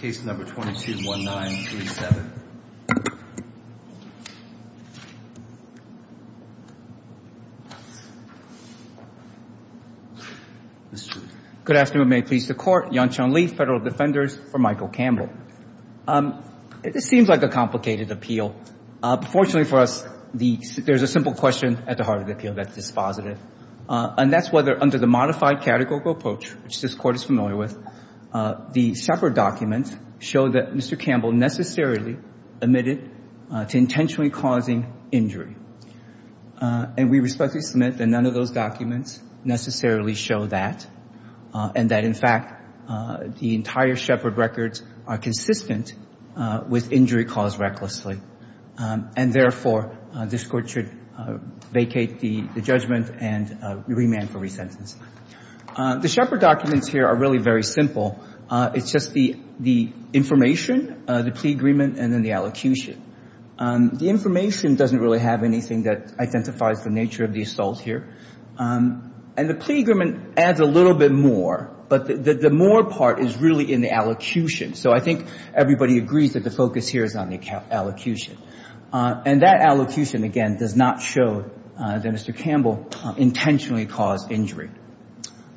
case number 221937. Good afternoon. May it please the Court. Yan-Qiang Li, Federal Defenders for Michael Campbell. It seems like a complicated appeal. Fortunately for us, there's a simple question at the heart of the appeal that's dispositive. And that's whether under the modified categorical approach, which this Court is familiar with, the Shepard documents show that Mr. Campbell necessarily admitted to intentionally causing injury. And we respectfully submit that none of those documents necessarily show that, and that, in fact, the entire Shepard records are consistent with injury caused recklessly. And therefore, this Court should vacate the judgment and remand for re-sentence. The Shepard documents here are really very simple. It's just the information, the plea agreement, and then the allocution. The information doesn't really have anything that identifies the nature of the assault here. And the plea agreement adds a little bit more, but the more part is really in the allocution. So I think everybody agrees that the focus here is on the allocution. And that allocution, again, does not show that Mr. Campbell intentionally caused injury.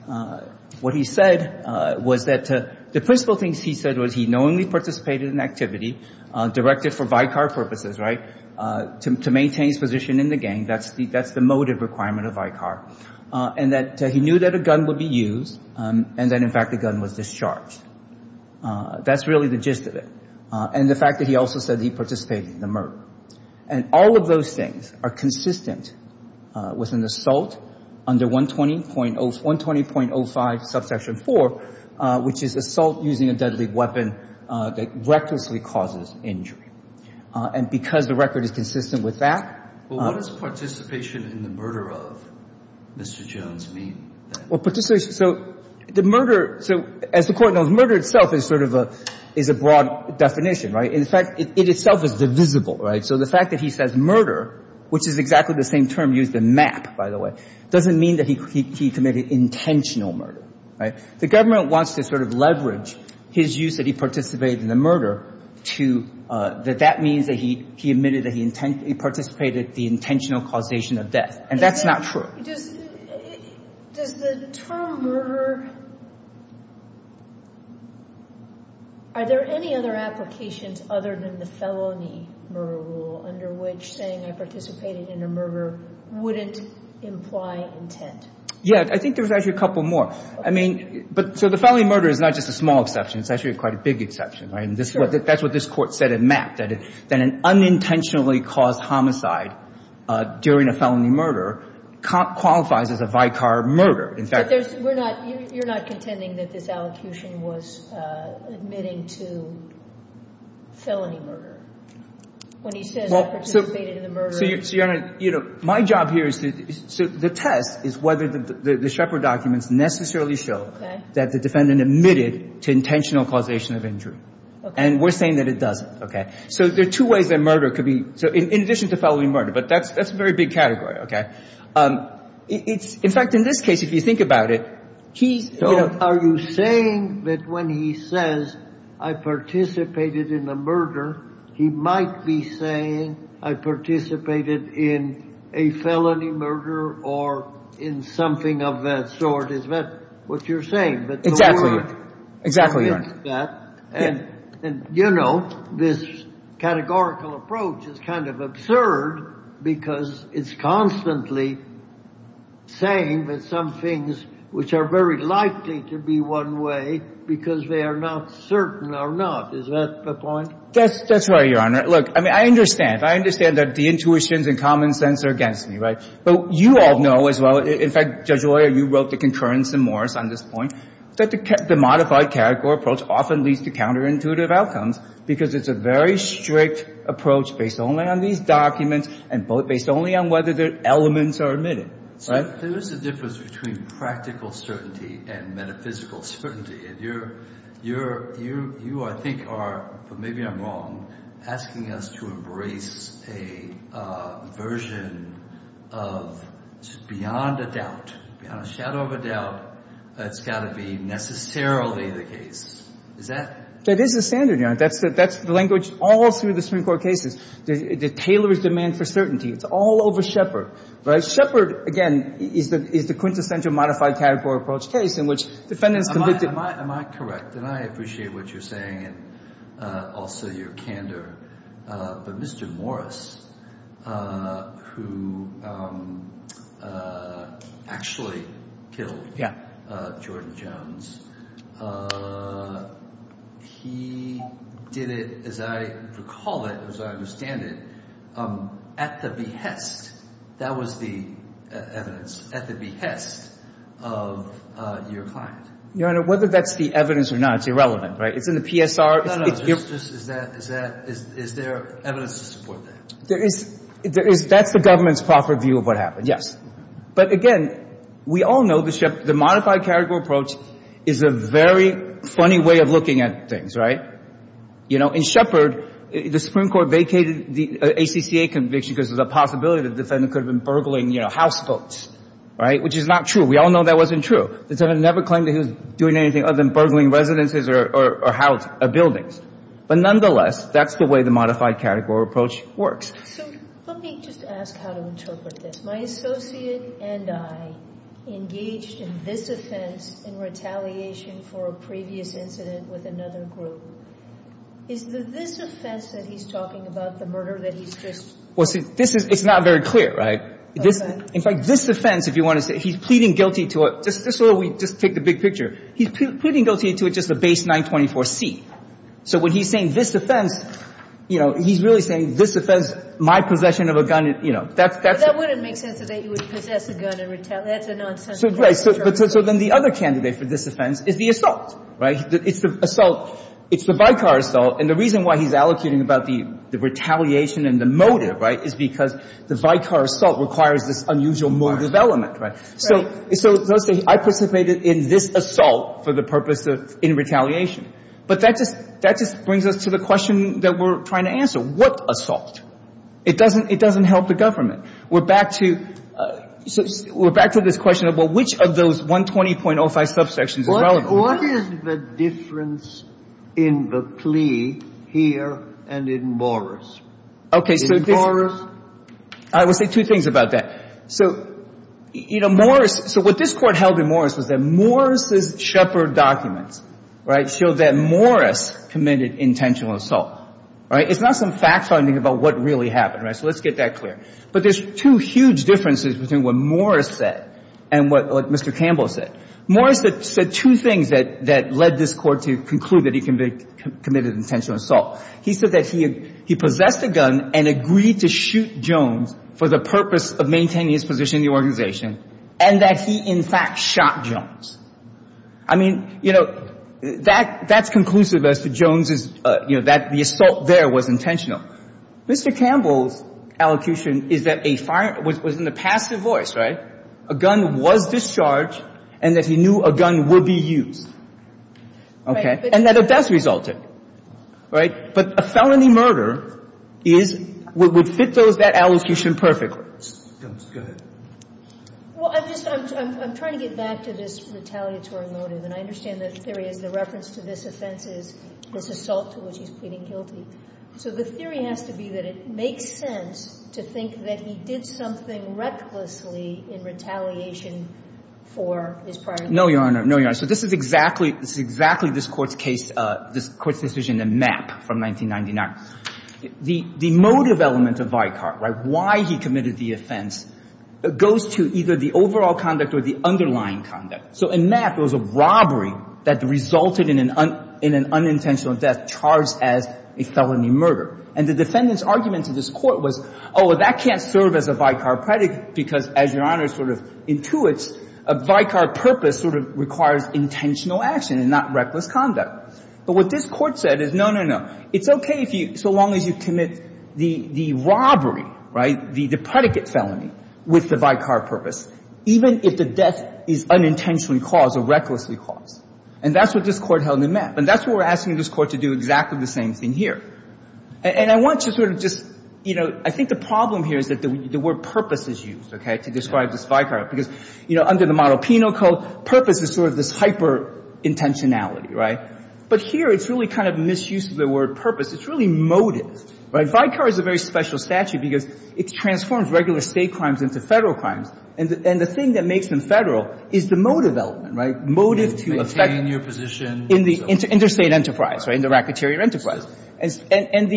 What he said was that the principal things he said was he knowingly participated in activity directed for Vicar purposes, right, to maintain his position in the gang. That's the motive requirement of Vicar. And that he knew that a gun would be used and that, in fact, the gun was discharged. That's really the gist of it. And the fact that he also said that he participated in the murder. And all of those things are consistent with an assault under 120.05, subsection 4, which is assault using a deadly weapon that recklessly causes injury. And because the record is consistent with that. Well, what does participation in the murder of Mr. Jones mean? Well, participation, so the murder, so as the Court knows, murder itself is sort of a, is a broad definition, right? In fact, it itself is divisible, right? So the fact that he says murder, which is exactly the same term used in MAP, by the way, doesn't mean that he committed intentional murder, right? The government wants to sort of leverage his use that he participated in the murder to, that that means that he admitted that he participated in the intentional causation of death. And that's not true. Does the term murder, are there any other applications other than the felony murder rule under which saying I participated in a murder wouldn't imply intent? Yeah, I think there's actually a couple more. I mean, so the felony murder is not just a small exception. It's actually quite a big exception, right? Because that's what this Court said in MAP, that an unintentionally caused homicide during a felony murder qualifies as a vicar murder. But there's, we're not, you're not contending that this allocution was admitting to felony murder. When he says I participated in the murder. So, Your Honor, you know, my job here is to, so the test is whether the Shepard documents necessarily show that the defendant admitted to intentional causation of injury. And we're saying that it doesn't. So there are two ways that murder could be, so in addition to felony murder. But that's a very big category. It's, in fact, in this case, if you think about it, he's, you know. So are you saying that when he says I participated in the murder, he might be saying I participated in a felony murder or in something of that sort? Is that what you're saying? Exactly. Exactly, Your Honor. I think that, and, you know, this categorical approach is kind of absurd because it's constantly saying that some things which are very likely to be one way because they are not certain are not. Is that the point? That's right, Your Honor. Look, I mean, I understand. I understand that the intuitions and common sense are against me, right? But you all know as well, in fact, Judge Loyer, you wrote the concurrence in Morris on this point, that the modified category approach often leads to counterintuitive outcomes because it's a very strict approach based only on these documents and based only on whether the elements are admitted, right? There is a difference between practical certainty and metaphysical certainty, and you, I think, are, but maybe I'm wrong, asking us to embrace a version of beyond a doubt, beyond a shadow of a doubt, that's got to be necessarily the case. Is that? That is the standard, Your Honor. That's the language all through the Supreme Court cases. It tailors demand for certainty. It's all over Shepard, right? Shepard, again, is the quintessential modified category approach case in which defendants committed. Am I correct? And I appreciate what you're saying and also your candor. But Mr. Morris, who actually killed Jordan Jones, he did it, as I recall it, as I understand it, at the behest. That was the evidence, at the behest of your client. Your Honor, whether that's the evidence or not, it's irrelevant, right? It's in the PSR. No, no, no. Is there evidence to support that? That's the government's proper view of what happened, yes. But, again, we all know the modified category approach is a very funny way of looking at things, right? You know, in Shepard, the Supreme Court vacated the ACCA conviction because there's a possibility the defendant could have been burgling, you know, house votes, right, which is not true. We all know that wasn't true. The defendant never claimed that he was doing anything other than burgling residences or buildings. But, nonetheless, that's the way the modified category approach works. So let me just ask how to interpret this. My associate and I engaged in this offense in retaliation for a previous incident with another group. Is this offense that he's talking about, the murder, that he's just – Well, see, this is – it's not very clear, right? Okay. In fact, this offense, if you want to say, he's pleading guilty to a – just so we take the big picture. He's pleading guilty to just a base 924C. So when he's saying this offense, you know, he's really saying this offense, my possession of a gun, you know, that's – But that wouldn't make sense that he would possess a gun and retaliate. That's a nonsensical – So, right. So then the other candidate for this offense is the assault, right? It's the assault – it's the Vicar assault. And the reason why he's allocating about the retaliation and the motive, right, is because the Vicar assault requires this unusual motive element, right? So – so let's say I participated in this assault for the purpose of – in retaliation. But that just – that just brings us to the question that we're trying to answer. What assault? It doesn't – it doesn't help the government. We're back to – we're back to this question of, well, which of those 120.05 subsections is relevant? What is the difference in the plea here and in Morris? Okay. In Morris? I will say two things about that. So, you know, Morris – so what this Court held in Morris was that Morris's Shepard documents, right, showed that Morris committed intentional assault, right? It's not some fact-finding about what really happened, right? So let's get that clear. But there's two huge differences between what Morris said and what Mr. Campbell said. Morris said two things that – that led this Court to conclude that he committed intentional assault. He said that he possessed a gun and agreed to shoot Jones for the purpose of maintaining his position in the organization and that he, in fact, shot Jones. I mean, you know, that – that's conclusive as to Jones' – you know, that the assault there was intentional. Mr. Campbell's allocution is that a fire – was in the passive voice, right? That a gun was discharged and that he knew a gun would be used. Okay? And that it does result in – right? But a felony murder is – would fit those – that allocation perfectly. Go ahead. Well, I'm just – I'm trying to get back to this retaliatory motive. And I understand the theory is the reference to this offense is this assault to which he's pleading guilty. So the theory has to be that it makes sense to think that he did something recklessly in retaliation for his prior – No, Your Honor. No, Your Honor. So this is exactly – this is exactly this Court's case – this Court's decision in Mapp from 1999. The – the motive element of Vicar, right, why he committed the offense, goes to either the overall conduct or the underlying conduct. So in Mapp, there was a robbery that resulted in an – in an unintentional death charged as a felony murder. And the defendant's argument to this Court was, oh, well, that can't serve as a Vicar predicate because, as Your Honor sort of intuits, a Vicar purpose sort of requires intentional action and not reckless conduct. But what this Court said is, no, no, no. It's okay if you – so long as you commit the robbery, right, the predicate felony with the Vicar purpose, even if the death is unintentionally caused or recklessly caused. And that's what this Court held in Mapp. And that's what we're asking this Court to do exactly the same thing here. And I want to sort of just – you know, I think the problem here is that the word purpose is used, okay, to describe this Vicar because, you know, under the model penal code, purpose is sort of this hyper-intentionality, right? But here, it's really kind of misuse of the word purpose. It's really motive, right? Vicar is a very special statute because it transforms regular state crimes into Federal crimes. And the thing that makes them Federal is the motive element, right? Motive to affect – To maintain your position. In the interstate enterprise, right, in the racketeer enterprise. And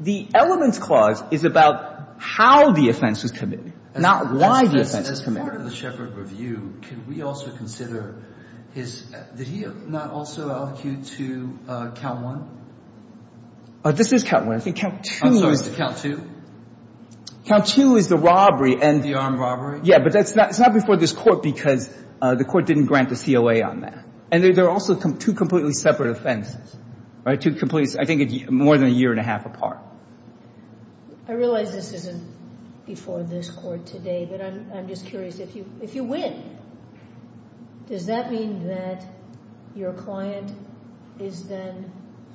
the elements clause is about how the offense was committed, not why the offense was committed. As part of the Shepherd review, can we also consider his – did he not also allocate to Count 1? This is Count 1. I think Count 2 is – I'm sorry, is it Count 2? Count 2 is the robbery and – The armed robbery? Yeah, but that's not – it's not before this court because the court didn't grant the COA on that. And there are also two completely separate offenses, right? Two completely – I think more than a year and a half apart. I realize this isn't before this court today, but I'm just curious. If you win, does that mean that your client is then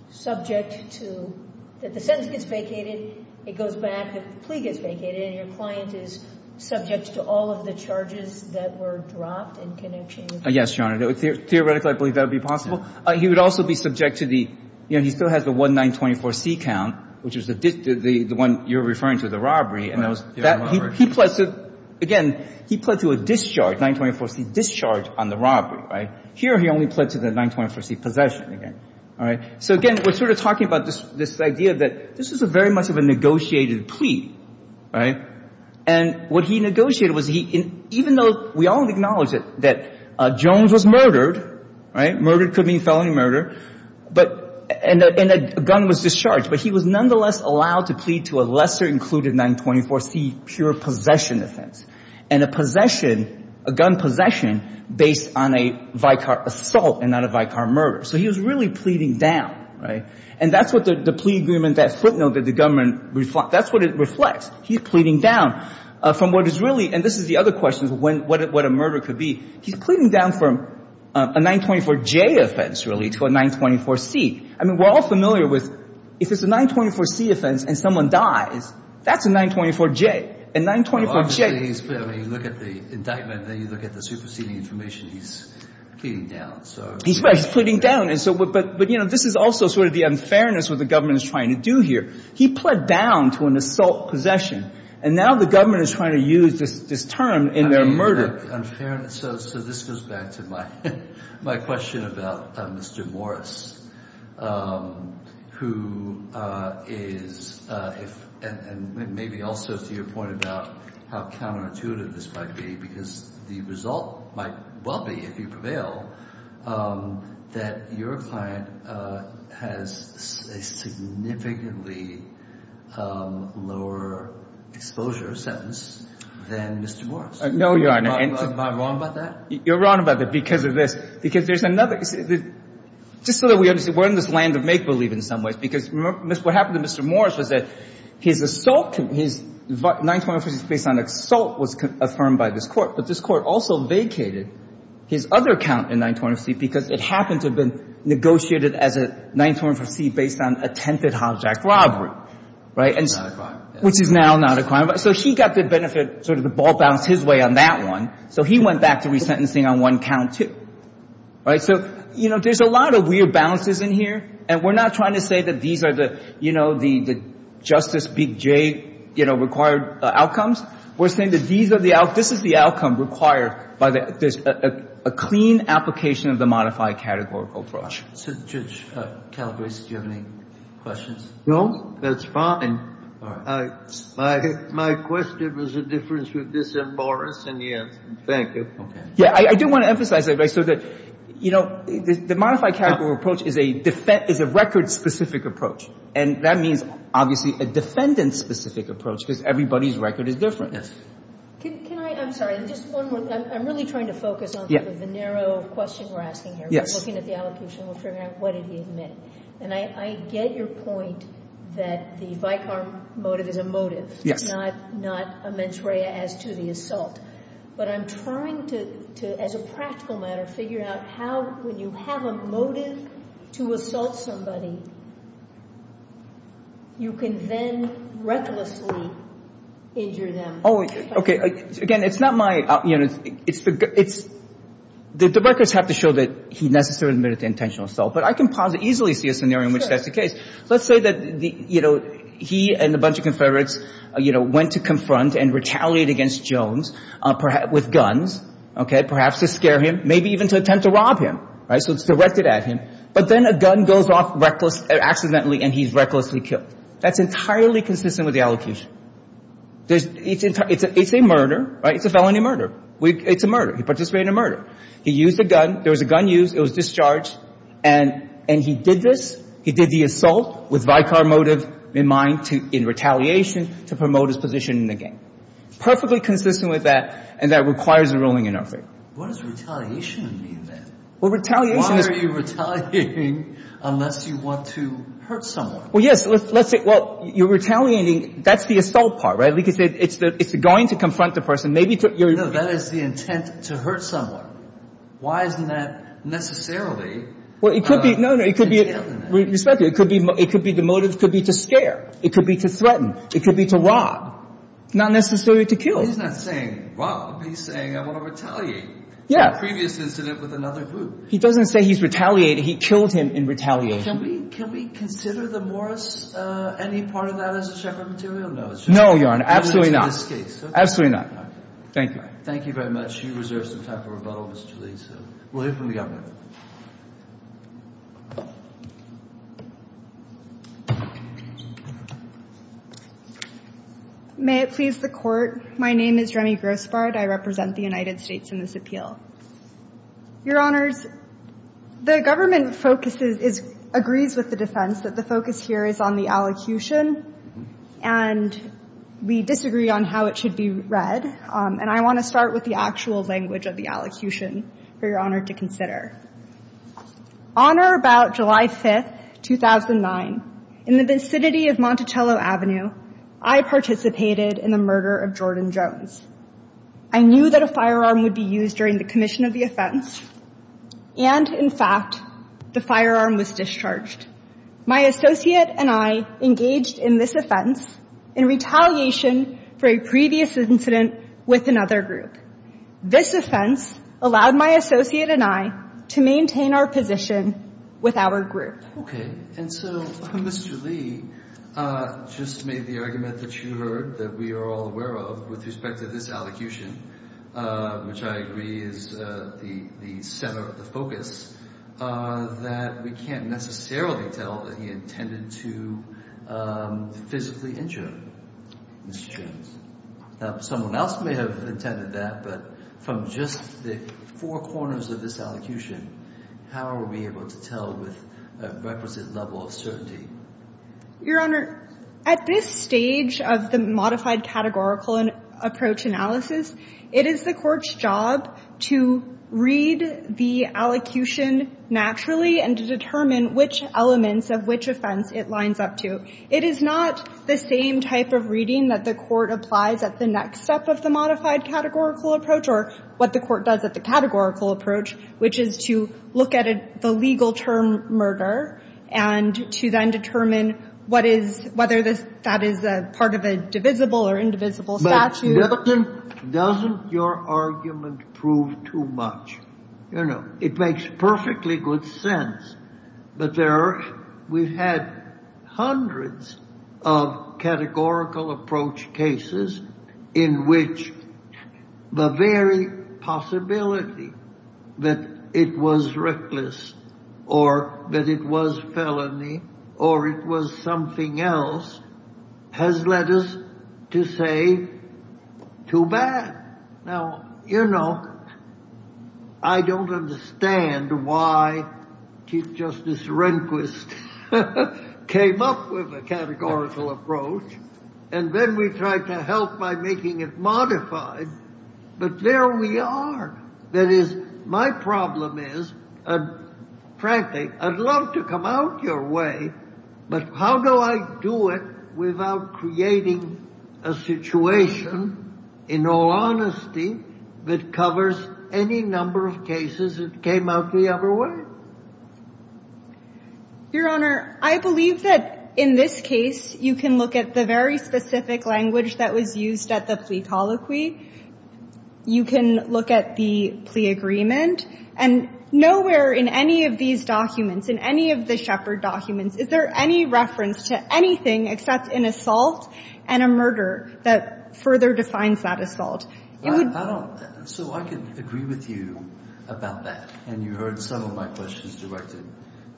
subject to – that the sentence gets vacated, it goes back, the plea gets vacated, and your client is subject to all of the charges that were dropped in connection with – Yes, Your Honor. Theoretically, I believe that would be possible. He would also be subject to the – you know, he still has the 1924C count, which is the one you're referring to, the robbery. Again, he pled to a discharge, 1924C discharge on the robbery, right? Here he only pled to the 1924C possession again, all right? So again, we're sort of talking about this idea that this is very much of a negotiated plea, right? And what he negotiated was he – even though we all acknowledge that Jones was murdered, right? Murdered could mean felony murder, but – and a gun was discharged, but he was nonetheless allowed to plead to a lesser included 1924C pure possession offense and a possession – a gun possession based on a Vicar assault and not a Vicar murder. So he was really pleading down, right? And that's what the plea agreement, that footnote that the government – that's what it reflects. He's pleading down from what is really – and this is the other question, what a murder could be. He's pleading down from a 1924J offense, really, to a 1924C. I mean, we're all familiar with – if it's a 1924C offense and someone dies, that's a 1924J. A 1924J – Well, obviously, he's – I mean, you look at the indictment, then you look at the superseding information. He's pleading down, so – He's right. He's pleading down. And so – but, you know, this is also sort of the unfairness of what the government is trying to do here. He pled down to an assault possession, and now the government is trying to use this term in their murder. So this goes back to my question about Mr. Morris, who is – and maybe also to your point about how counterintuitive this might be, because the result might well be, if you prevail, that your client has a significantly lower exposure sentence than Mr. Morris. No, Your Honor. Am I wrong about that? You're wrong about that because of this. Because there's another – just so that we understand, we're in this land of make-believe in some ways, because what happened to Mr. Morris was that his assault – his 1924C based on assault was affirmed by this Court, but this Court also vacated his other count in 1924C because it happened to have been negotiated as a 1924C based on attempted hijack robbery. Right? Which is now not a crime. So he got the benefit, sort of the ball bounced his way on that one, so he went back to resentencing on one count, too. Right? So, you know, there's a lot of weird balances in here, and we're not trying to say that these are the, you know, the Justice Big J, you know, required outcomes. We're saying that these are the – this is the outcome required by the – there's a clean application of the modified categorical approach. So, Judge Calabresi, do you have any questions? No. That's fine. All right. My question was a difference with this and Morris, and yes. Thank you. Okay. Yeah, I do want to emphasize that, right, so that, you know, the modified categorical approach is a record-specific approach, and that means, obviously, a defendant-specific approach, because everybody's record is different. Yes. Can I – I'm sorry. Just one more. I'm really trying to focus on the narrow question we're asking here. Yes. We're looking at the allocutional trigger. What did he admit? And I get your point that the Vicar motive is a motive. Not a mens rea as to the assault. But I'm trying to, as a practical matter, figure out how, when you have a motive to assault somebody, you can then recklessly injure them. Oh, okay. Again, it's not my – you know, it's – the records have to show that he necessarily admitted the intentional assault. But I can easily see a scenario in which that's the case. Sure. Let's say that, you know, he and a bunch of Confederates, you know, went to confront and retaliate against Jones with guns, okay, perhaps to scare him, maybe even to attempt to rob him, right, so it's directed at him. But then a gun goes off recklessly – accidentally, and he's recklessly killed. That's entirely consistent with the allocation. It's a murder, right? It's a felony murder. It's a murder. He participated in a murder. He used a gun. There was a gun used. It was discharged. And he did this. He did the assault with Vicar motive in mind to – in retaliation to promote his position in the game. Perfectly consistent with that, and that requires a ruling in our favor. What does retaliation mean, then? Well, retaliation is – Why are you retaliating unless you want to hurt someone? Well, yes. Let's say – well, you're retaliating. That's the assault part, right? Because it's going to confront the person. Maybe to – No, that is the intent, to hurt someone. Why isn't that necessarily – Well, it could be – no, no. It could be – Respect it. It could be the motive. It could be to scare. It could be to threaten. It could be to rob. Not necessarily to kill. He's not saying rob. He's saying I want to retaliate. Yeah. To a previous incident with another group. He doesn't say he's retaliated. He killed him in retaliation. Can we consider the Morris – any part of that as a separate material? No, it's just – No, Your Honor. Absolutely not. In this case. Absolutely not. Thank you. Thank you very much. You reserve some time for rebuttal, Mr. Lee. We'll hear from the Governor. May it please the Court. My name is Remy Grossbard. I represent the United States in this appeal. Your Honors, the Government focuses – agrees with the defense that the focus here is on the allocution. And we disagree on how it should be read. And I want to start with the actual language of the allocution for Your Honor to consider. On or about July 5th, 2009, in the vicinity of Monticello Avenue, I participated in the murder of Jordan Jones. I knew that a firearm would be used during the commission of the offense. And, in fact, the firearm was discharged. My associate and I engaged in this offense in retaliation for a previous incident with another group. This offense allowed my associate and I to maintain our position with our group. Okay. And so Mr. Lee just made the argument that you heard that we are all aware of with respect to this allocution, which I agree is the center of the focus, that we can't necessarily tell that he intended to physically injure Mr. Jones. Now, someone else may have intended that, but from just the four corners of this allocution, how are we able to tell with a requisite level of certainty? Your Honor, at this stage of the modified categorical approach analysis, it is the court's job to read the allocution naturally and to determine which elements of which offense it lines up to. It is not the same type of reading that the court applies at the next step of the modified categorical approach or what the court does at the categorical approach, which is to look at the legal term murder and to then determine whether that is part of a divisible or indivisible statute. But doesn't your argument prove too much? You know, it makes perfectly good sense, but we've had hundreds of categorical approach cases in which the very possibility that it was reckless or that it was felony or it was something else has led us to say too bad. Now, you know, I don't understand why Chief Justice Rehnquist came up with a categorical approach and then we tried to help by making it modified. But there we are. That is, my problem is, frankly, I'd love to come out your way, but how do I do it without creating a situation, in all honesty, that covers any number of cases that came out the other way? Your Honor, I believe that in this case you can look at the very specific language that was used at the plea colloquy. You can look at the plea agreement. And nowhere in any of these documents, in any of the Shepherd documents, is there any reference to anything except an assault and a murder that further defines that assault. It would be... So I can agree with you about that. And you heard some of my questions directed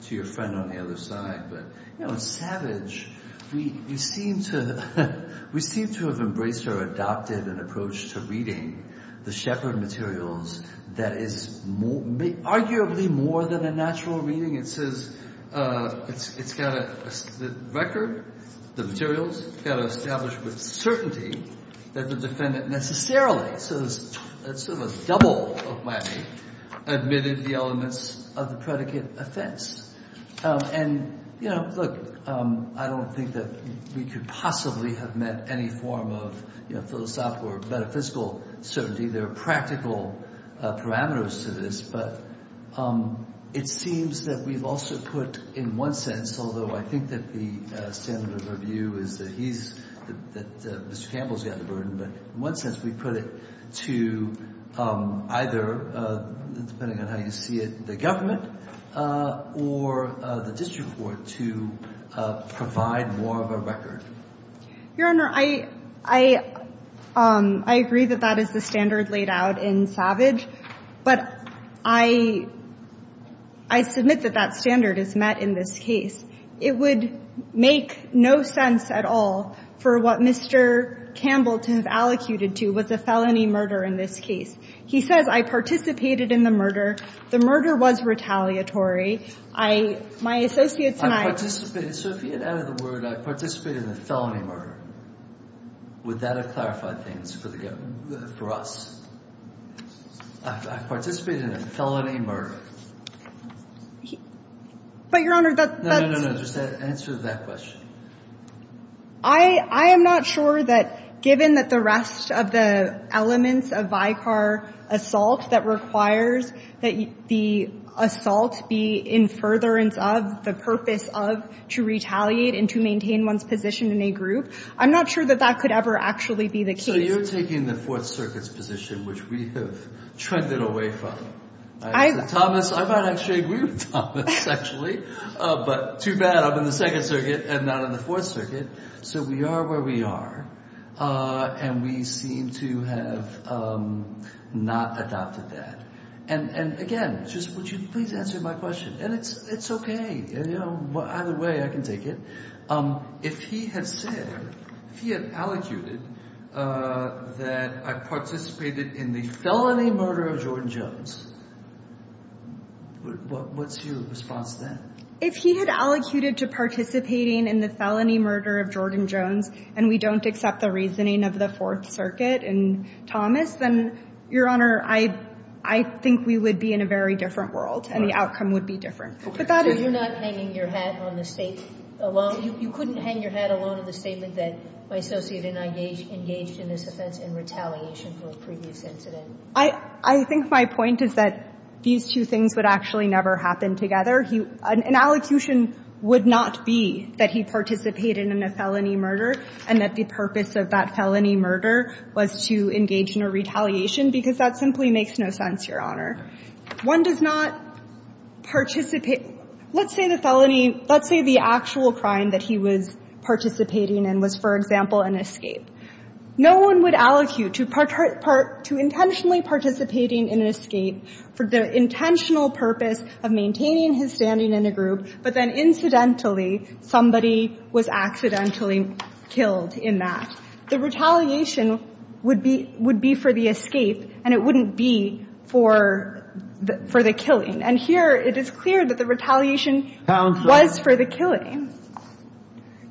to your friend on the other side. But, you know, Savage, we seem to have embraced or adopted an approach to reading the Shepherd materials that is arguably more than a natural reading. It says it's got a record, the materials, got to establish with certainty that the defendant necessarily, sort of a double of whammy, admitted the elements of the predicate offense. And, you know, look, I don't think that we could possibly have met any form of philosophical or metaphysical certainty. There are practical parameters to this. But it seems that we've also put, in one sense, although I think that the standard of review is that he's, that Mr. Campbell's got the burden, but in one sense we put it to either, depending on how you see it, the government or the district court to provide more of a record. Your Honor, I, I, I agree that that is the standard laid out in Savage. But I, I submit that that standard is met in this case. It would make no sense at all for what Mr. Campbell has allocated to with the felony murder in this case. He says, I participated in the murder. The murder was retaliatory. I, my associates and I. So if you get out of the word, I participated in a felony murder. Would that have clarified things for the government, for us? I, I participated in a felony murder. But, Your Honor, that's. No, no, no. Just answer that question. I, I am not sure that given that the rest of the elements of Vicar assault that requires that the assault be in furtherance of the purpose of to retaliate and to maintain one's position in a group. I'm not sure that that could ever actually be the case. So you're taking the Fourth Circuit's position, which we have trended away from. I. Thomas, I might actually agree with Thomas, actually. But too bad I'm in the Second Circuit and not in the Fourth Circuit. So we are where we are. And we seem to have not adopted that. And, and again, just would you please answer my question. And it's, it's okay. You know, either way I can take it. If he had said, if he had allocated that I participated in the felony murder of Jordan Jones. What's your response to that? If he had allocated to participating in the felony murder of Jordan Jones and we don't accept the reasoning of the Fourth Circuit and Thomas, then, Your Honor, I, I think we would be in a very different world. And the outcome would be different. But that is. You're not hanging your hat on the State alone. You couldn't hang your hat alone on the statement that my associate and I engaged in this offense in retaliation for a previous incident. I, I think my point is that these two things would actually never happen together. He, an allocution would not be that he participated in a felony murder and that the purpose of that felony murder was to engage in a retaliation because that simply makes no sense, Your Honor. One does not participate. Let's say the felony, let's say the actual crime that he was participating in was, for example, an escape. No one would allocute to, to intentionally participating in an escape for the intentional purpose of maintaining his standing in a group, but then incidentally somebody was accidentally killed in that. The retaliation would be, would be for the escape and it wouldn't be for, for the killing. And here it is clear that the retaliation was for the killing.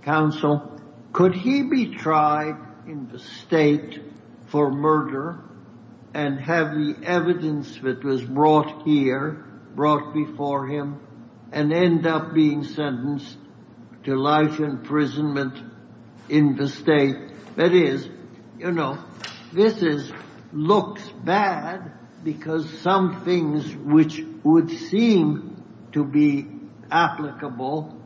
Counsel, could he be tried in the State for murder and have the evidence that was brought here, brought before him and end up being sentenced to life imprisonment in the State? That is, you know, this is, looks bad because some things which would seem to be applicable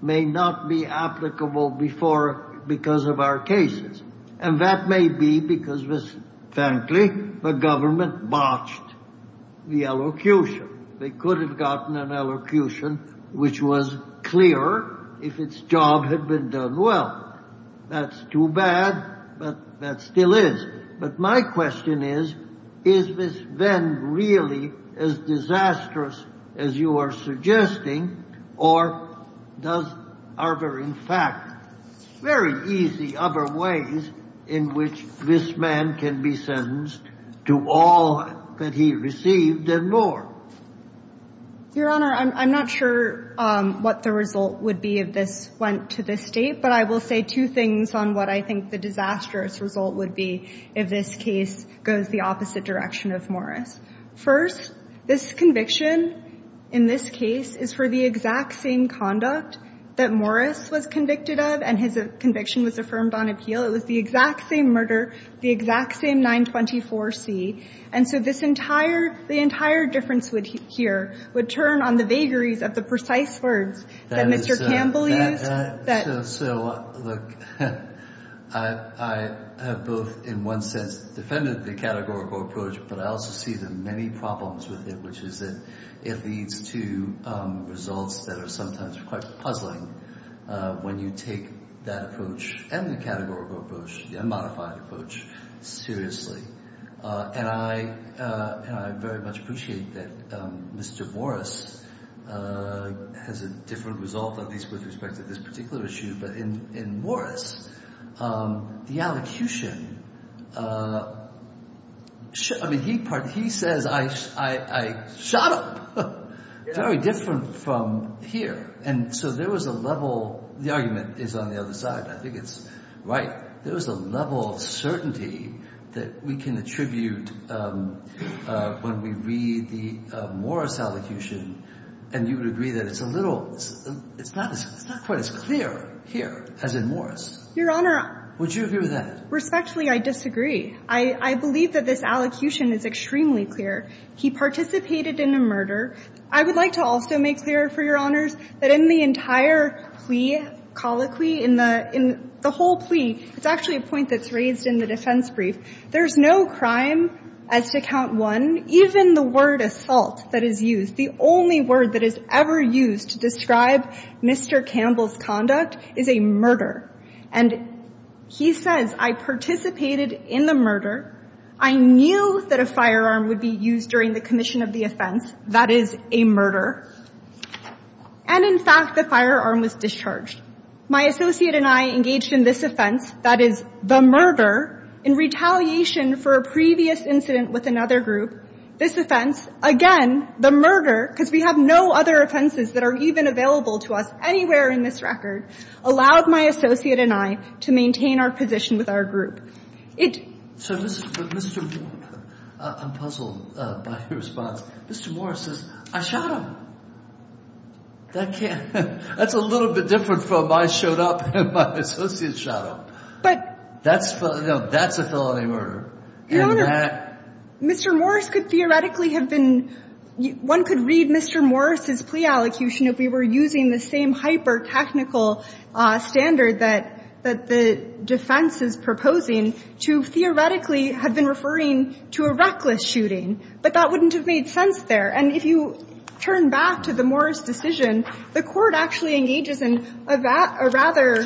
may not be applicable before, because of our cases. And that may be because, frankly, the government botched the allocution. They could have gotten an allocution which was clearer if its job had been done well. That's too bad, but that still is. But my question is, is this then really as disastrous as you are suggesting, or does, are there, in fact, very easy other ways in which this man can be sentenced to all that he received and more? Your Honor, I'm not sure what the result would be if this went to the State, but I will say two things on what I think the disastrous result would be if this case goes the opposite direction of Morris. First, this conviction in this case is for the exact same conduct that Morris was convicted of and his conviction was affirmed on appeal. It was the exact same murder, the exact same 924C. And so this entire, the entire difference here would turn on the vagaries of the precise words that Mr. Campbell used. So, look, I have both in one sense defended the categorical approach, but I also see the many problems with it, which is that it leads to results that are sometimes quite puzzling when you take that approach and the categorical approach, the unmodified approach, seriously. And I very much appreciate that Mr. Morris has a different result, at least with respect to this particular issue. But in Morris, the allocution, I mean, he says, I shot him. Very different from here. And so there was a level, the argument is on the other side, I think it's right. There was a level of certainty that we can attribute when we read the Morris allocution and you would agree that it's a little, it's not quite as clear here as in Morris. Your Honor. Would you agree with that? Respectfully, I disagree. I believe that this allocution is extremely clear. He participated in a murder. I would like to also make clear for Your Honors that in the entire plea, colloquy, in the whole plea, it's actually a point that's raised in the defense brief. There's no crime as to count one, even the word assault that is used. The only word that is ever used to describe Mr. Campbell's conduct is a murder. And he says, I participated in the murder. I knew that a firearm would be used during the commission of the offense. That is a murder. And, in fact, the firearm was discharged. My associate and I engaged in this offense, that is, the murder, in retaliation for a previous incident with another group. This offense, again, the murder, because we have no other offenses that are even available to us anywhere in this record, allowed my associate and I to maintain our position with our group. It — So, Mr. — I'm puzzled by your response. Mr. Morris says, I shot him. That can't — that's a little bit different from I showed up and my associate shot him. But — That's — no, that's a felony murder. And that — Your Honor, Mr. Morris could theoretically have been — one could read Mr. Morris's plea allocution if we were using the same hyper-technical standard that the defense is proposing to theoretically have been referring to a reckless shooting. But that wouldn't have made sense there. And if you turn back to the Morris decision, the Court actually engages in a rather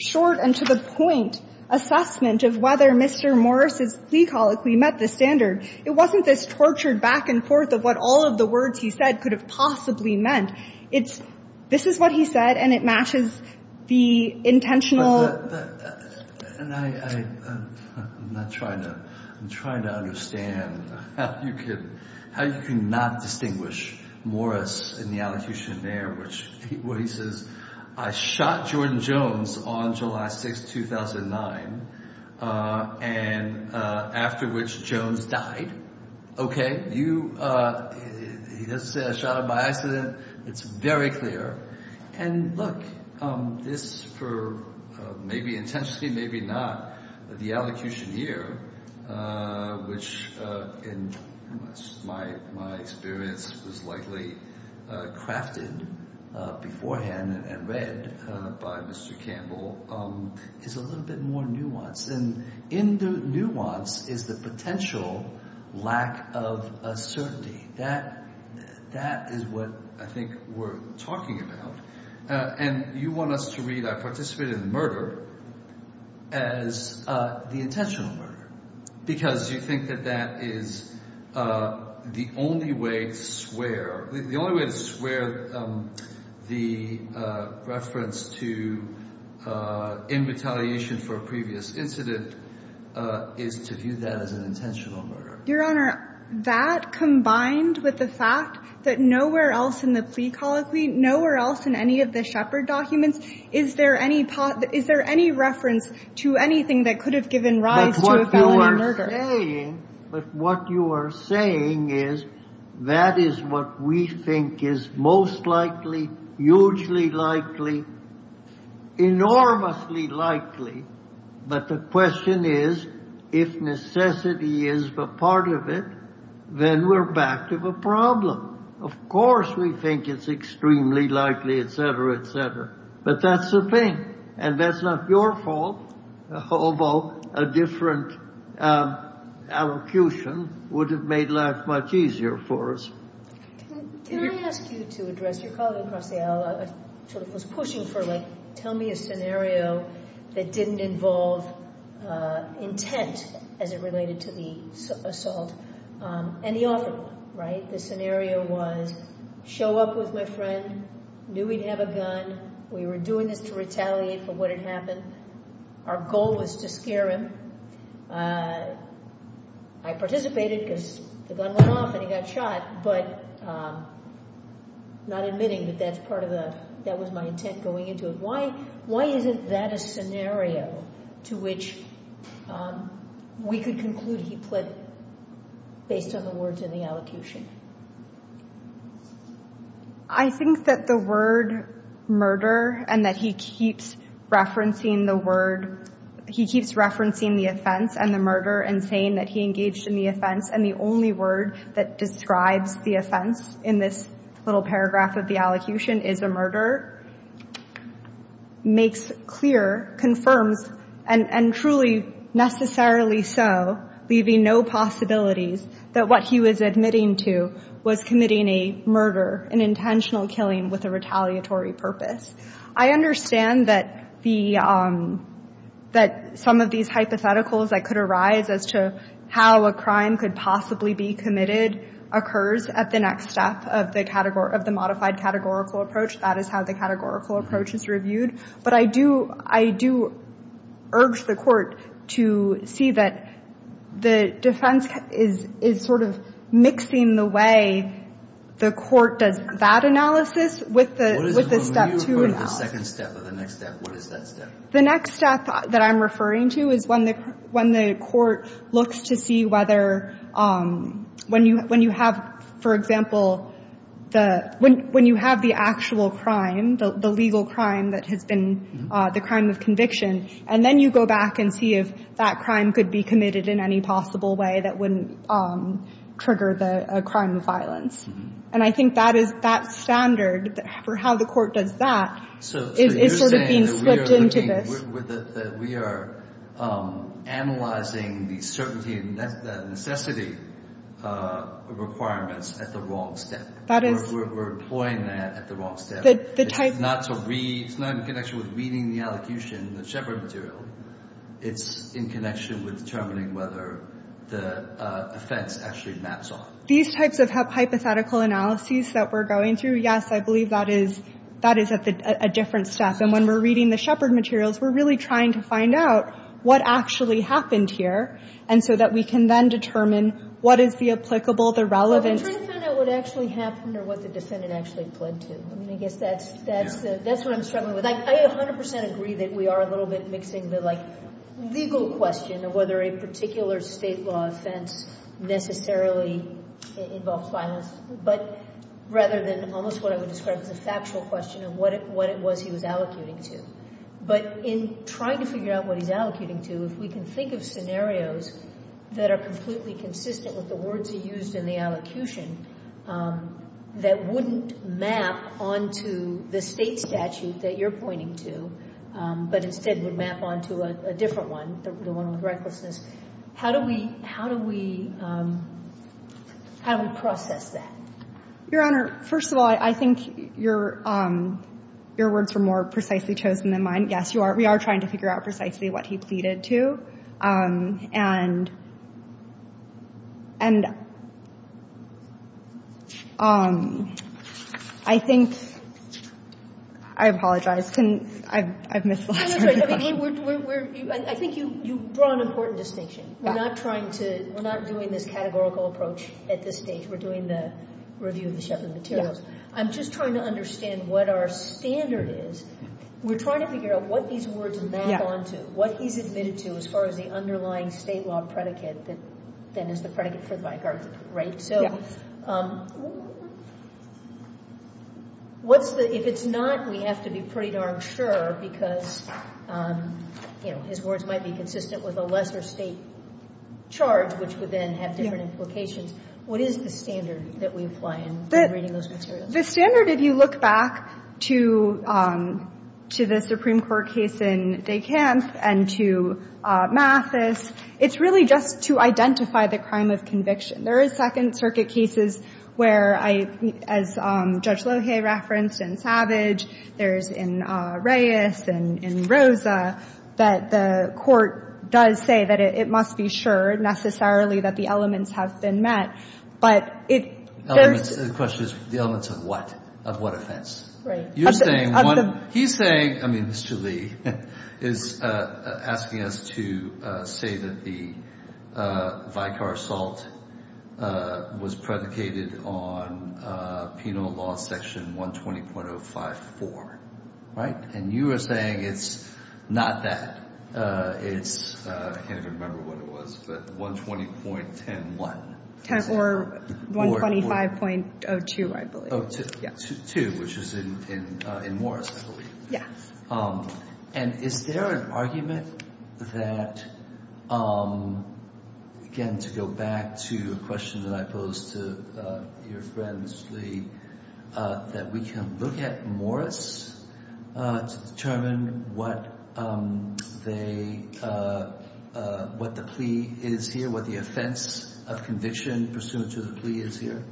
short and to-the-point assessment of whether Mr. Morris's plea colloquy met the standard. It wasn't this tortured back and forth of what all of the words he said could have possibly meant. It's — this is what he said, and it matches the intentional — And I'm not trying to — I'm trying to understand how you could — how you could not distinguish Morris in the allocution there, which — where he says, I shot Jordan Jones on July 6, 2009, and — after which Jones died. OK? You — he doesn't say I shot him by accident. It's very clear. And, look, this, for maybe intentionally, maybe not, the allocution here, which in my experience was likely crafted beforehand and read by Mr. Campbell, is a little bit more nuanced. And in the nuance is the potential lack of certainty. That is what I think we're talking about. And you want us to read I participated in the murder as the intentional murder, because you think that that is the only way to swear — the only way to swear the reference to in retaliation for a previous incident is to view that as an intentional murder. Your Honor, that combined with the fact that nowhere else in the plea colloquy, nowhere else in any of the Shepard documents, is there any — is there any reference to anything that could have given rise to a felony murder? But what you are saying is that is what we think is most likely, hugely likely, enormously likely. But the question is, if necessity is a part of it, then we're back to the problem. Of course, we think it's extremely likely, et cetera, et cetera. But that's the thing. And that's not your fault, although a different allocution would have made life much easier for us. Can I ask you to address — your colleague, Rossella, sort of was pushing for, like, tell me a scenario that didn't involve intent as it related to the assault, and he offered one, right? The scenario was, show up with my friend, knew he'd have a gun. We were doing this to retaliate for what had happened. Our goal was to scare him. I participated because the gun went off and he got shot, but not admitting that that's part of the — that was my intent going into it. Why isn't that a scenario to which we could conclude he pled based on the words in the allocution? I think that the word murder, and that he keeps referencing the word — he keeps referencing the offense and the murder and saying that he engaged in the offense, and the only word that describes the offense in this little paragraph of the allocution is a murder, makes clear, confirms, and truly necessarily so, leaving no possibilities that what he was going to do was committing a murder, an intentional killing with a retaliatory purpose. I understand that the — that some of these hypotheticals that could arise as to how a crime could possibly be committed occurs at the next step of the — of the modified categorical approach. That is how the categorical approach is reviewed. But I do — I do urge the Court to see that the defense is — is sort of mixing the way the Court does that analysis with the — with the step two analysis. When you refer to the second step or the next step, what is that step? The next step that I'm referring to is when the — when the Court looks to see whether — when you — when you have, for example, the — when you have the actual crime, the legal crime that has been the crime of conviction, and then you go back and see if that crime could be committed in any possible way that wouldn't trigger the — a crime of violence. And I think that is — that standard for how the Court does that is sort of being slipped into this. So you're saying that we are looking — that we are analyzing the certainty and necessity requirements at the wrong step? That is — We're employing that at the wrong step. The type — It's not to read — it's not in connection with reading the allocution, the Shepard material. It's in connection with determining whether the offense actually maps off. These types of hypothetical analyses that we're going through, yes, I believe that is — that is a different step. And when we're reading the Shepard materials, we're really trying to find out what actually happened here, and so that we can then determine what is the applicable, the relevant — Well, we're trying to find out what actually happened or what the defendant actually fled to. I mean, I guess that's — That's what I'm struggling with. I 100 percent agree that we are a little bit mixing the, like, legal question of whether a particular state law offense necessarily involves violence, but rather than almost what I would describe as a factual question of what it was he was allocuting to. But in trying to figure out what he's allocuting to, if we can think of scenarios that are the state statute that you're pointing to, but instead would map onto a different one, the one with recklessness, how do we — how do we process that? Your Honor, first of all, I think your words were more precisely chosen than mine. Yes, you are — we are trying to figure out precisely what he pleaded to. And I think — I apologize. I've missed the last part of the question. I think you draw an important distinction. We're not trying to — we're not doing this categorical approach at this stage. We're doing the review of the Sheppard materials. I'm just trying to understand what our standard is. We're trying to figure out what these words map onto, what he's admitted to as far as the underlying state law predicate that then is the predicate for the vicar, right? So what's the — if it's not, we have to be pretty darn sure because, you know, his words might be consistent with a lesser state charge, which would then have different implications. What is the standard that we apply in reading those materials? The standard, if you look back to the Supreme Court case in Descamps and to Mathis, it's really just to identify the crime of conviction. There is Second Circuit cases where I — as Judge Lohe referenced in Savage, there's in Reyes and in Rosa that the court does say that it must be sure necessarily that the elements have been met. But it — The question is the elements of what? Of what offense? Right. You're saying one — he's saying — I mean, Mr. Lee is asking us to say that the vicar assault was predicated on penal law section 120.054, right? And you are saying it's not that. It's — I can't even remember what it was, but 120.101. Or 125.02, I believe. Oh, two, which is in Morris, I believe. Yes. And is there an argument that, again, to go back to a question that I posed to your friend, Mr. Lee, that we can look at Morris to determine what they — what the plea is here, what the offense of conviction pursuant to the plea is here?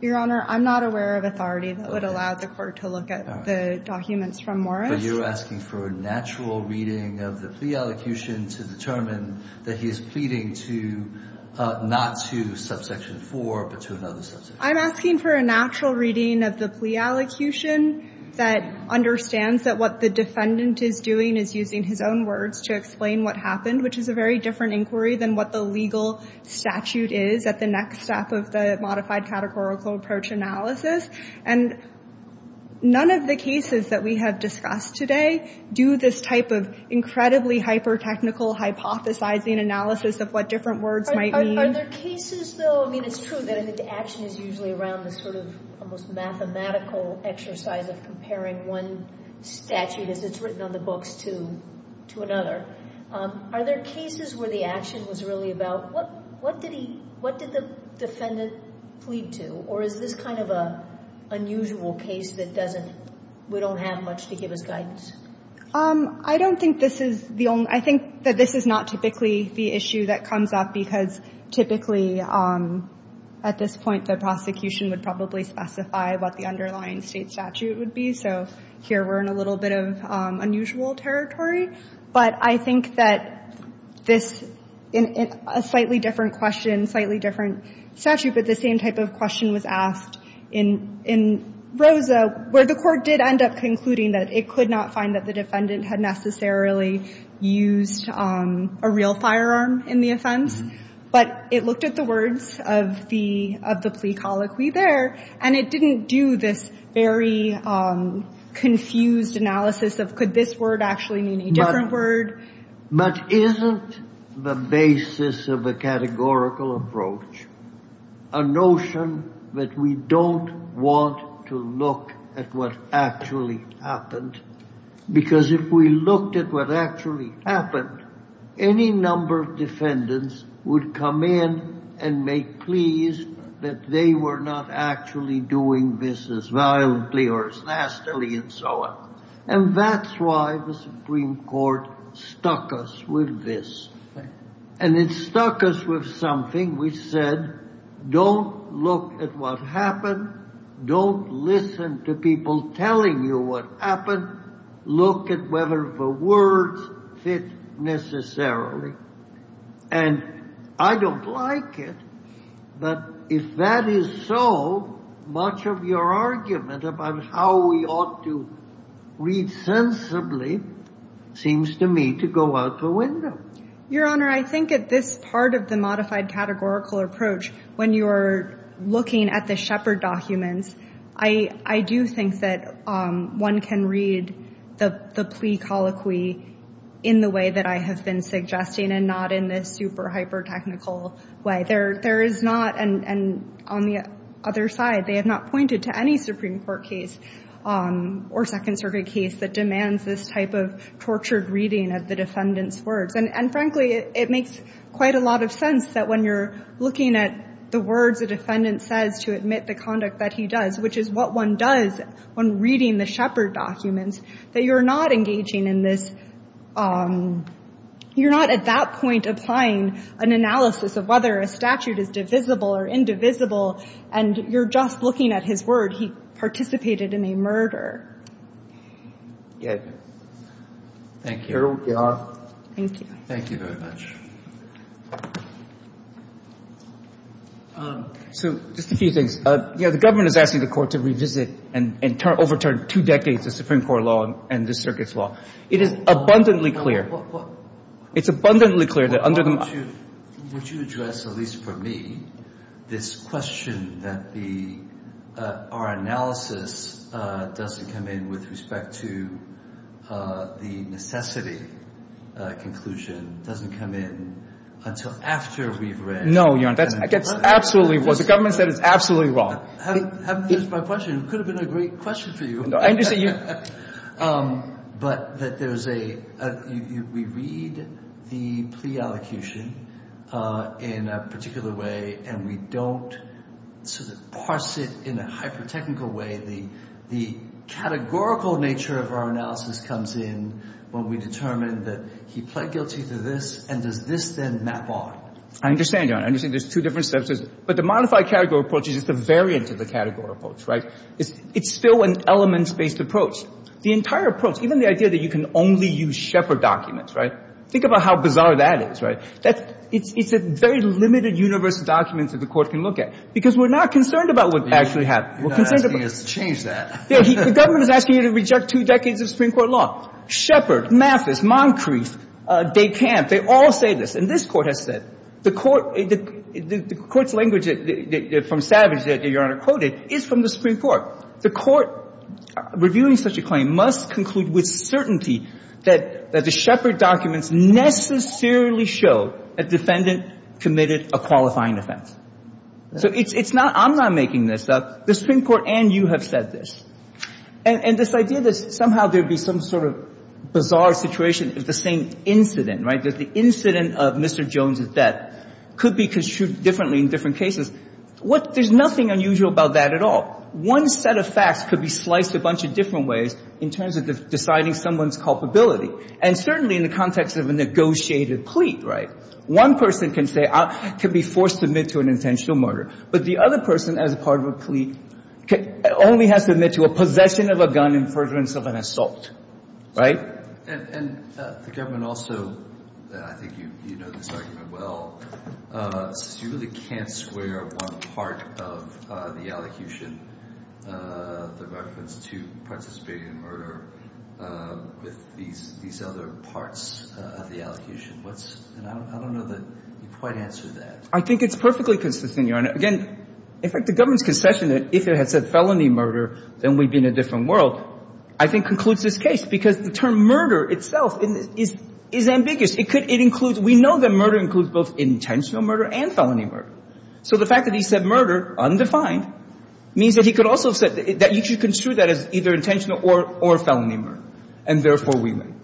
Your Honor, I'm not aware of authority that would allow the court to look at the documents from Morris. But you're asking for a natural reading of the plea allocution to determine that he is pleading to — not to subsection 4, but to another subsection. I'm asking for a natural reading of the plea allocution that understands that what the defendant is doing is using his own words to explain what happened, which is a very different inquiry than what the legal statute is at the next step of the modified categorical approach analysis. And none of the cases that we have discussed today do this type of incredibly hyper-technical hypothesizing analysis of what different words might mean. Are there cases, though — I mean, it's true that action is usually around this sort of almost mathematical exercise of comparing one statute as it's written on the books to another. Are there cases where the action was really about what did he — what did the defendant plead to? Or is this kind of an unusual case that doesn't — we don't have much to give us guidance? I don't think this is the only — I think that this is not typically the issue that comes up, because typically at this point the prosecution would probably specify what the underlying state statute would be. So here we're in a little bit of unusual territory. But I think that this — a slightly different question, slightly different statute, but the same type of question was asked in Rosa, where the court did end up concluding that it could not find that the defendant had necessarily used a real firearm in the But it looked at the words of the plea colloquy there, and it didn't do this very But isn't the basis of a categorical approach a notion that we don't want to look at what actually happened? Because if we looked at what actually happened, any number of defendants would come in and make pleas that they were not actually doing this as violently or as nastily and so on. And that's why the Supreme Court stuck us with this. And it stuck us with something which said, don't look at what happened. Don't listen to people telling you what happened. Look at whether the words fit necessarily. And I don't like it, but if that is so, much of your argument about how we ought to read sensibly seems to me to go out the window. Your Honor, I think at this part of the modified categorical approach, when you are looking at the Shepard documents, I do think that one can read the plea colloquy in the way that I have been suggesting and not in this super hyper-technical way. There is not, and on the other side, they have not pointed to any Supreme Court case or Second Circuit case that demands this type of tortured reading of the defendant's words. And frankly, it makes quite a lot of sense that when you're looking at the words a defendant says to admit the conduct that he does, which is what one does when reading the Shepard documents, that you're not engaging in this, you're not at that point applying an analysis of whether a statute is divisible or indivisible, and you're just looking at his word. He participated in a murder. Thank you, Your Honor. Thank you. Thank you very much. So just a few things. One is, you know, the government is asking the Court to revisit and overturn two decades of Supreme Court law and this Circuit's law. It is abundantly clear. It's abundantly clear that under the— Why don't you address, at least for me, this question that our analysis doesn't come in with respect to the necessity conclusion, doesn't come in until after we've read— No, Your Honor. That's absolutely right. Well, the government said it's absolutely wrong. Having used my question, it could have been a great question for you. No, I understand you— But that there's a—we read the plea allocution in a particular way and we don't sort of parse it in a hyper-technical way. The categorical nature of our analysis comes in when we determine that he pled guilty to this, and does this then map on? I understand, Your Honor. I understand there's two different steps. But the modified category approach is just a variant of the category approach, right? It's still an elements-based approach. The entire approach, even the idea that you can only use Shepard documents, right? Think about how bizarre that is, right? It's a very limited universe of documents that the Court can look at, because we're not concerned about what actually happened. We're concerned about— You're not asking us to change that. Yeah. The government is asking you to reject two decades of Supreme Court law. Shepard, Mathis, Moncrief, Descamps, they all say this. And this Court has said, the Court's language from Savage that Your Honor quoted is from the Supreme Court. The Court reviewing such a claim must conclude with certainty that the Shepard documents necessarily show a defendant committed a qualifying offense. So it's not, I'm not making this up. The Supreme Court and you have said this. And this idea that somehow there would be some sort of bizarre situation if the same incident, right? If the incident of Mr. Jones' death could be construed differently in different cases, what — there's nothing unusual about that at all. One set of facts could be sliced a bunch of different ways in terms of deciding someone's culpability. And certainly in the context of a negotiated plea, right? One person can say — can be forced to admit to an intentional murder. But the other person as part of a plea only has to admit to a possession of a gun in furtherance of an assault, right? And the government also, and I think you know this argument well, says you really can't square one part of the elocution, the reference to Prince of Spain murder, with these other parts of the elocution. What's — and I don't know that you quite answered that. I think it's perfectly consistent, Your Honor. Again, in fact, the government's concession that if it had said felony murder, then we'd be in a different world I think concludes this case. Because the term murder itself is ambiguous. It could — it includes — we know that murder includes both intentional murder and felony murder. So the fact that he said murder, undefined, means that he could also have said that you should construe that as either intentional or felony murder. And therefore, we win.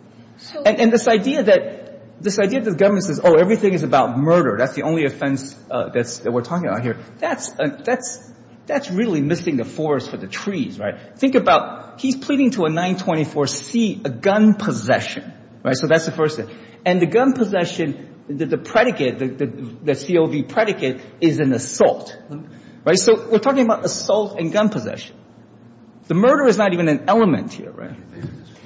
And this idea that — this idea that the government says, oh, everything is about murder, that's the only offense that we're talking about here, that's really missing the forest for the trees, right? Think about — he's pleading to a 924-C, a gun possession. Right? So that's the first thing. And the gun possession, the predicate, the COV predicate is an assault. Right? So we're talking about assault and gun possession. The murder is not even an element here, right?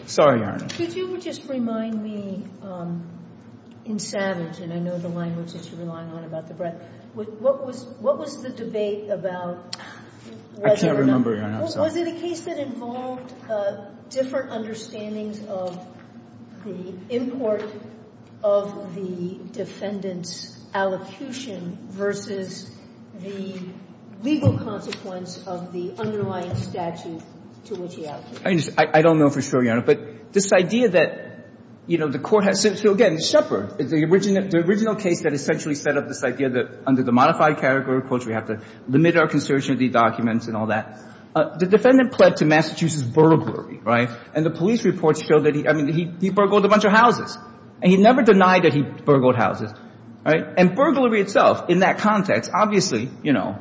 Sorry, Your Honor. Could you just remind me, in Savage, and I know the language that you're relying on about the breath, what was — what was the debate about whether or not — I can't remember, Your Honor. Was it a case that involved different understandings of the import of the defendant's allocution versus the legal consequence of the underlying statute to which he allocated? I don't know for sure, Your Honor. But this idea that, you know, the court has — so again, Shepard, the original — the original case that essentially set up this idea that under the modified category, of course, we have to limit our conservative documents and all that, the defendant pled to Massachusetts burglary. Right? And the police reports show that he — I mean, he burgled a bunch of houses. And he never denied that he burgled houses. Right? And burglary itself, in that context, obviously, you know,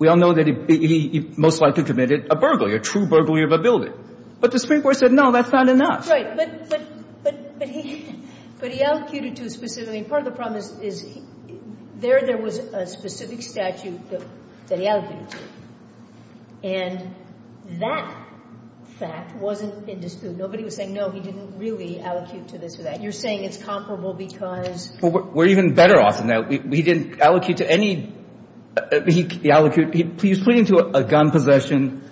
we all know that he most likely committed a burglary, a true burglary of a building. But the Supreme Court said, no, that's not enough. Right. But he — but he allocated to a specific — I mean, part of the problem is there was a specific statute that he allocated to. And that fact wasn't in dispute. Nobody was saying, no, he didn't really allocate to this or that. You're saying it's comparable because — Well, we're even better off than that. He didn't allocate to any — he allocated — he was pleading to a gun possession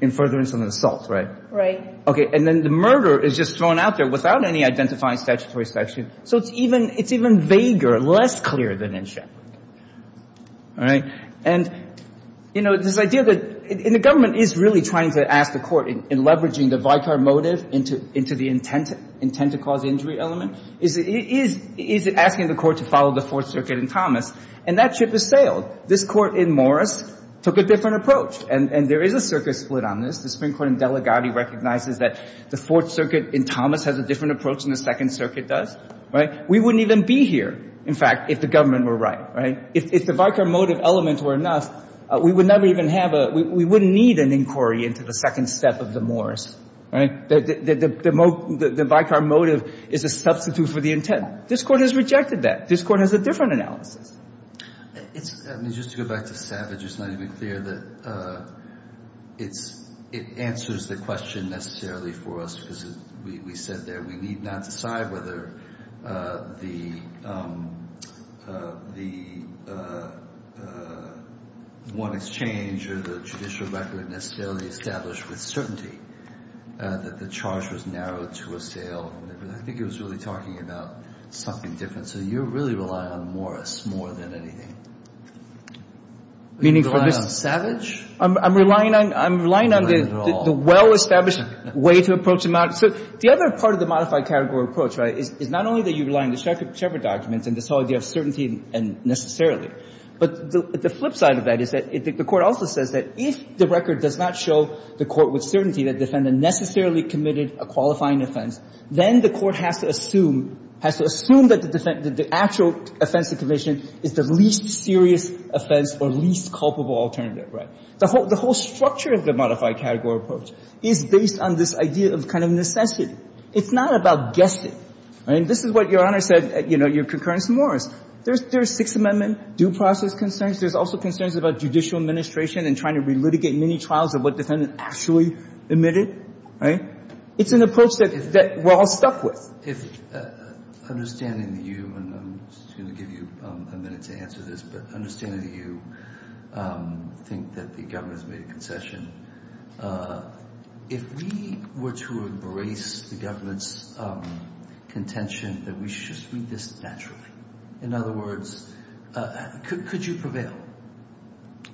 in furtherance of an assault. Right? Right. Okay. And then the murder is just thrown out there without any identifying statutory statute. So it's even — it's even vaguer, less clear than in Shepard. All right. And, you know, this idea that — and the government is really trying to ask the court, in leveraging the Vicar motive into the intent to cause injury element, is asking the court to follow the Fourth Circuit in Thomas. And that ship has sailed. This court in Morris took a different approach. And there is a circuit split on this. The Supreme Court in Delegati recognizes that the Fourth Circuit in Thomas has a different approach than the Second Circuit does. Right? We wouldn't even be here, in fact, if the government were right. Right? If the Vicar motive elements were enough, we would never even have a — we wouldn't need an inquiry into the second step of the Morris. Right? The Vicar motive is a substitute for the intent. This Court has rejected that. This Court has a different analysis. It's — I mean, just to go back to Savage, it's not even clear that it's — it answers the question necessarily for us, because we said there we need not decide whether the — the one exchange or the judicial record necessarily established with certainty that the charge was narrowed to a sale. I think it was really talking about something different. So you really rely on Morris more than anything. Do you rely on Savage? I'm relying on — I'm relying on the well-established way to approach the — so the other part of the modified category approach, right, is not only that you rely on the Shepard documents and this whole idea of certainty and necessarily, but the flip side of that is that the Court also says that if the record does not show the court with certainty that the defendant necessarily committed a qualifying offense, then the Court has to assume that the offense of conviction is the least serious offense or least culpable alternative, right? The whole — the whole structure of the modified category approach is based on this idea of kind of necessity. It's not about guessing. I mean, this is what Your Honor said at, you know, your concurrence in Morris. There's — there's Sixth Amendment due process concerns. There's also concerns about judicial administration and trying to relitigate many trials of what defendant actually admitted, right? It's an approach that — that we're all stuck with. If — understanding that you — and I'm just going to give you a minute to answer this, but understanding that you think that the government has made a concession, if we were to embrace the government's contention that we should treat this naturally, in other words, could you prevail?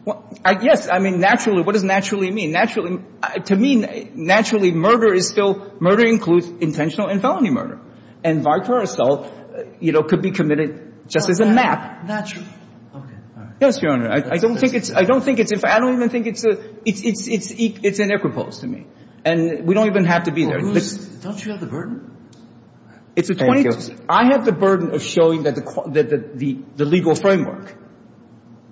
Well, yes. I mean, naturally. What does naturally mean? Naturally — to me, naturally, murder is still — murder includes intentional and felony murder. And vicarious assault, you know, could be committed just as a map. Naturally. Yes, Your Honor. I don't think it's — I don't think it's — I don't even think it's a — it's — it's iniquitous to me. And we don't even have to be there. Don't you have the burden? It's a — Thank you. I have the burden of showing that the legal framework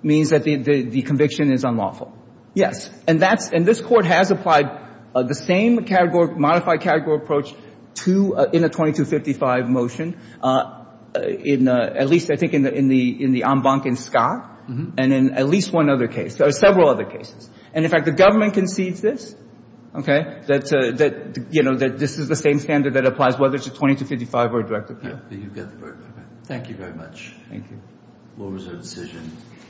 means that the conviction is unlawful. Yes. And that's — and this Court has applied the same category — modified category approach to — in a 2255 motion, in — at least, I think, in the en banc in Scott and in at least one other case. There are several other cases. And, in fact, the government concedes this, okay, that, you know, that this is the same standard that applies whether it's a 2255 or a direct appeal. You've got the burden. Thank you very much. Thank you. The floor is yours.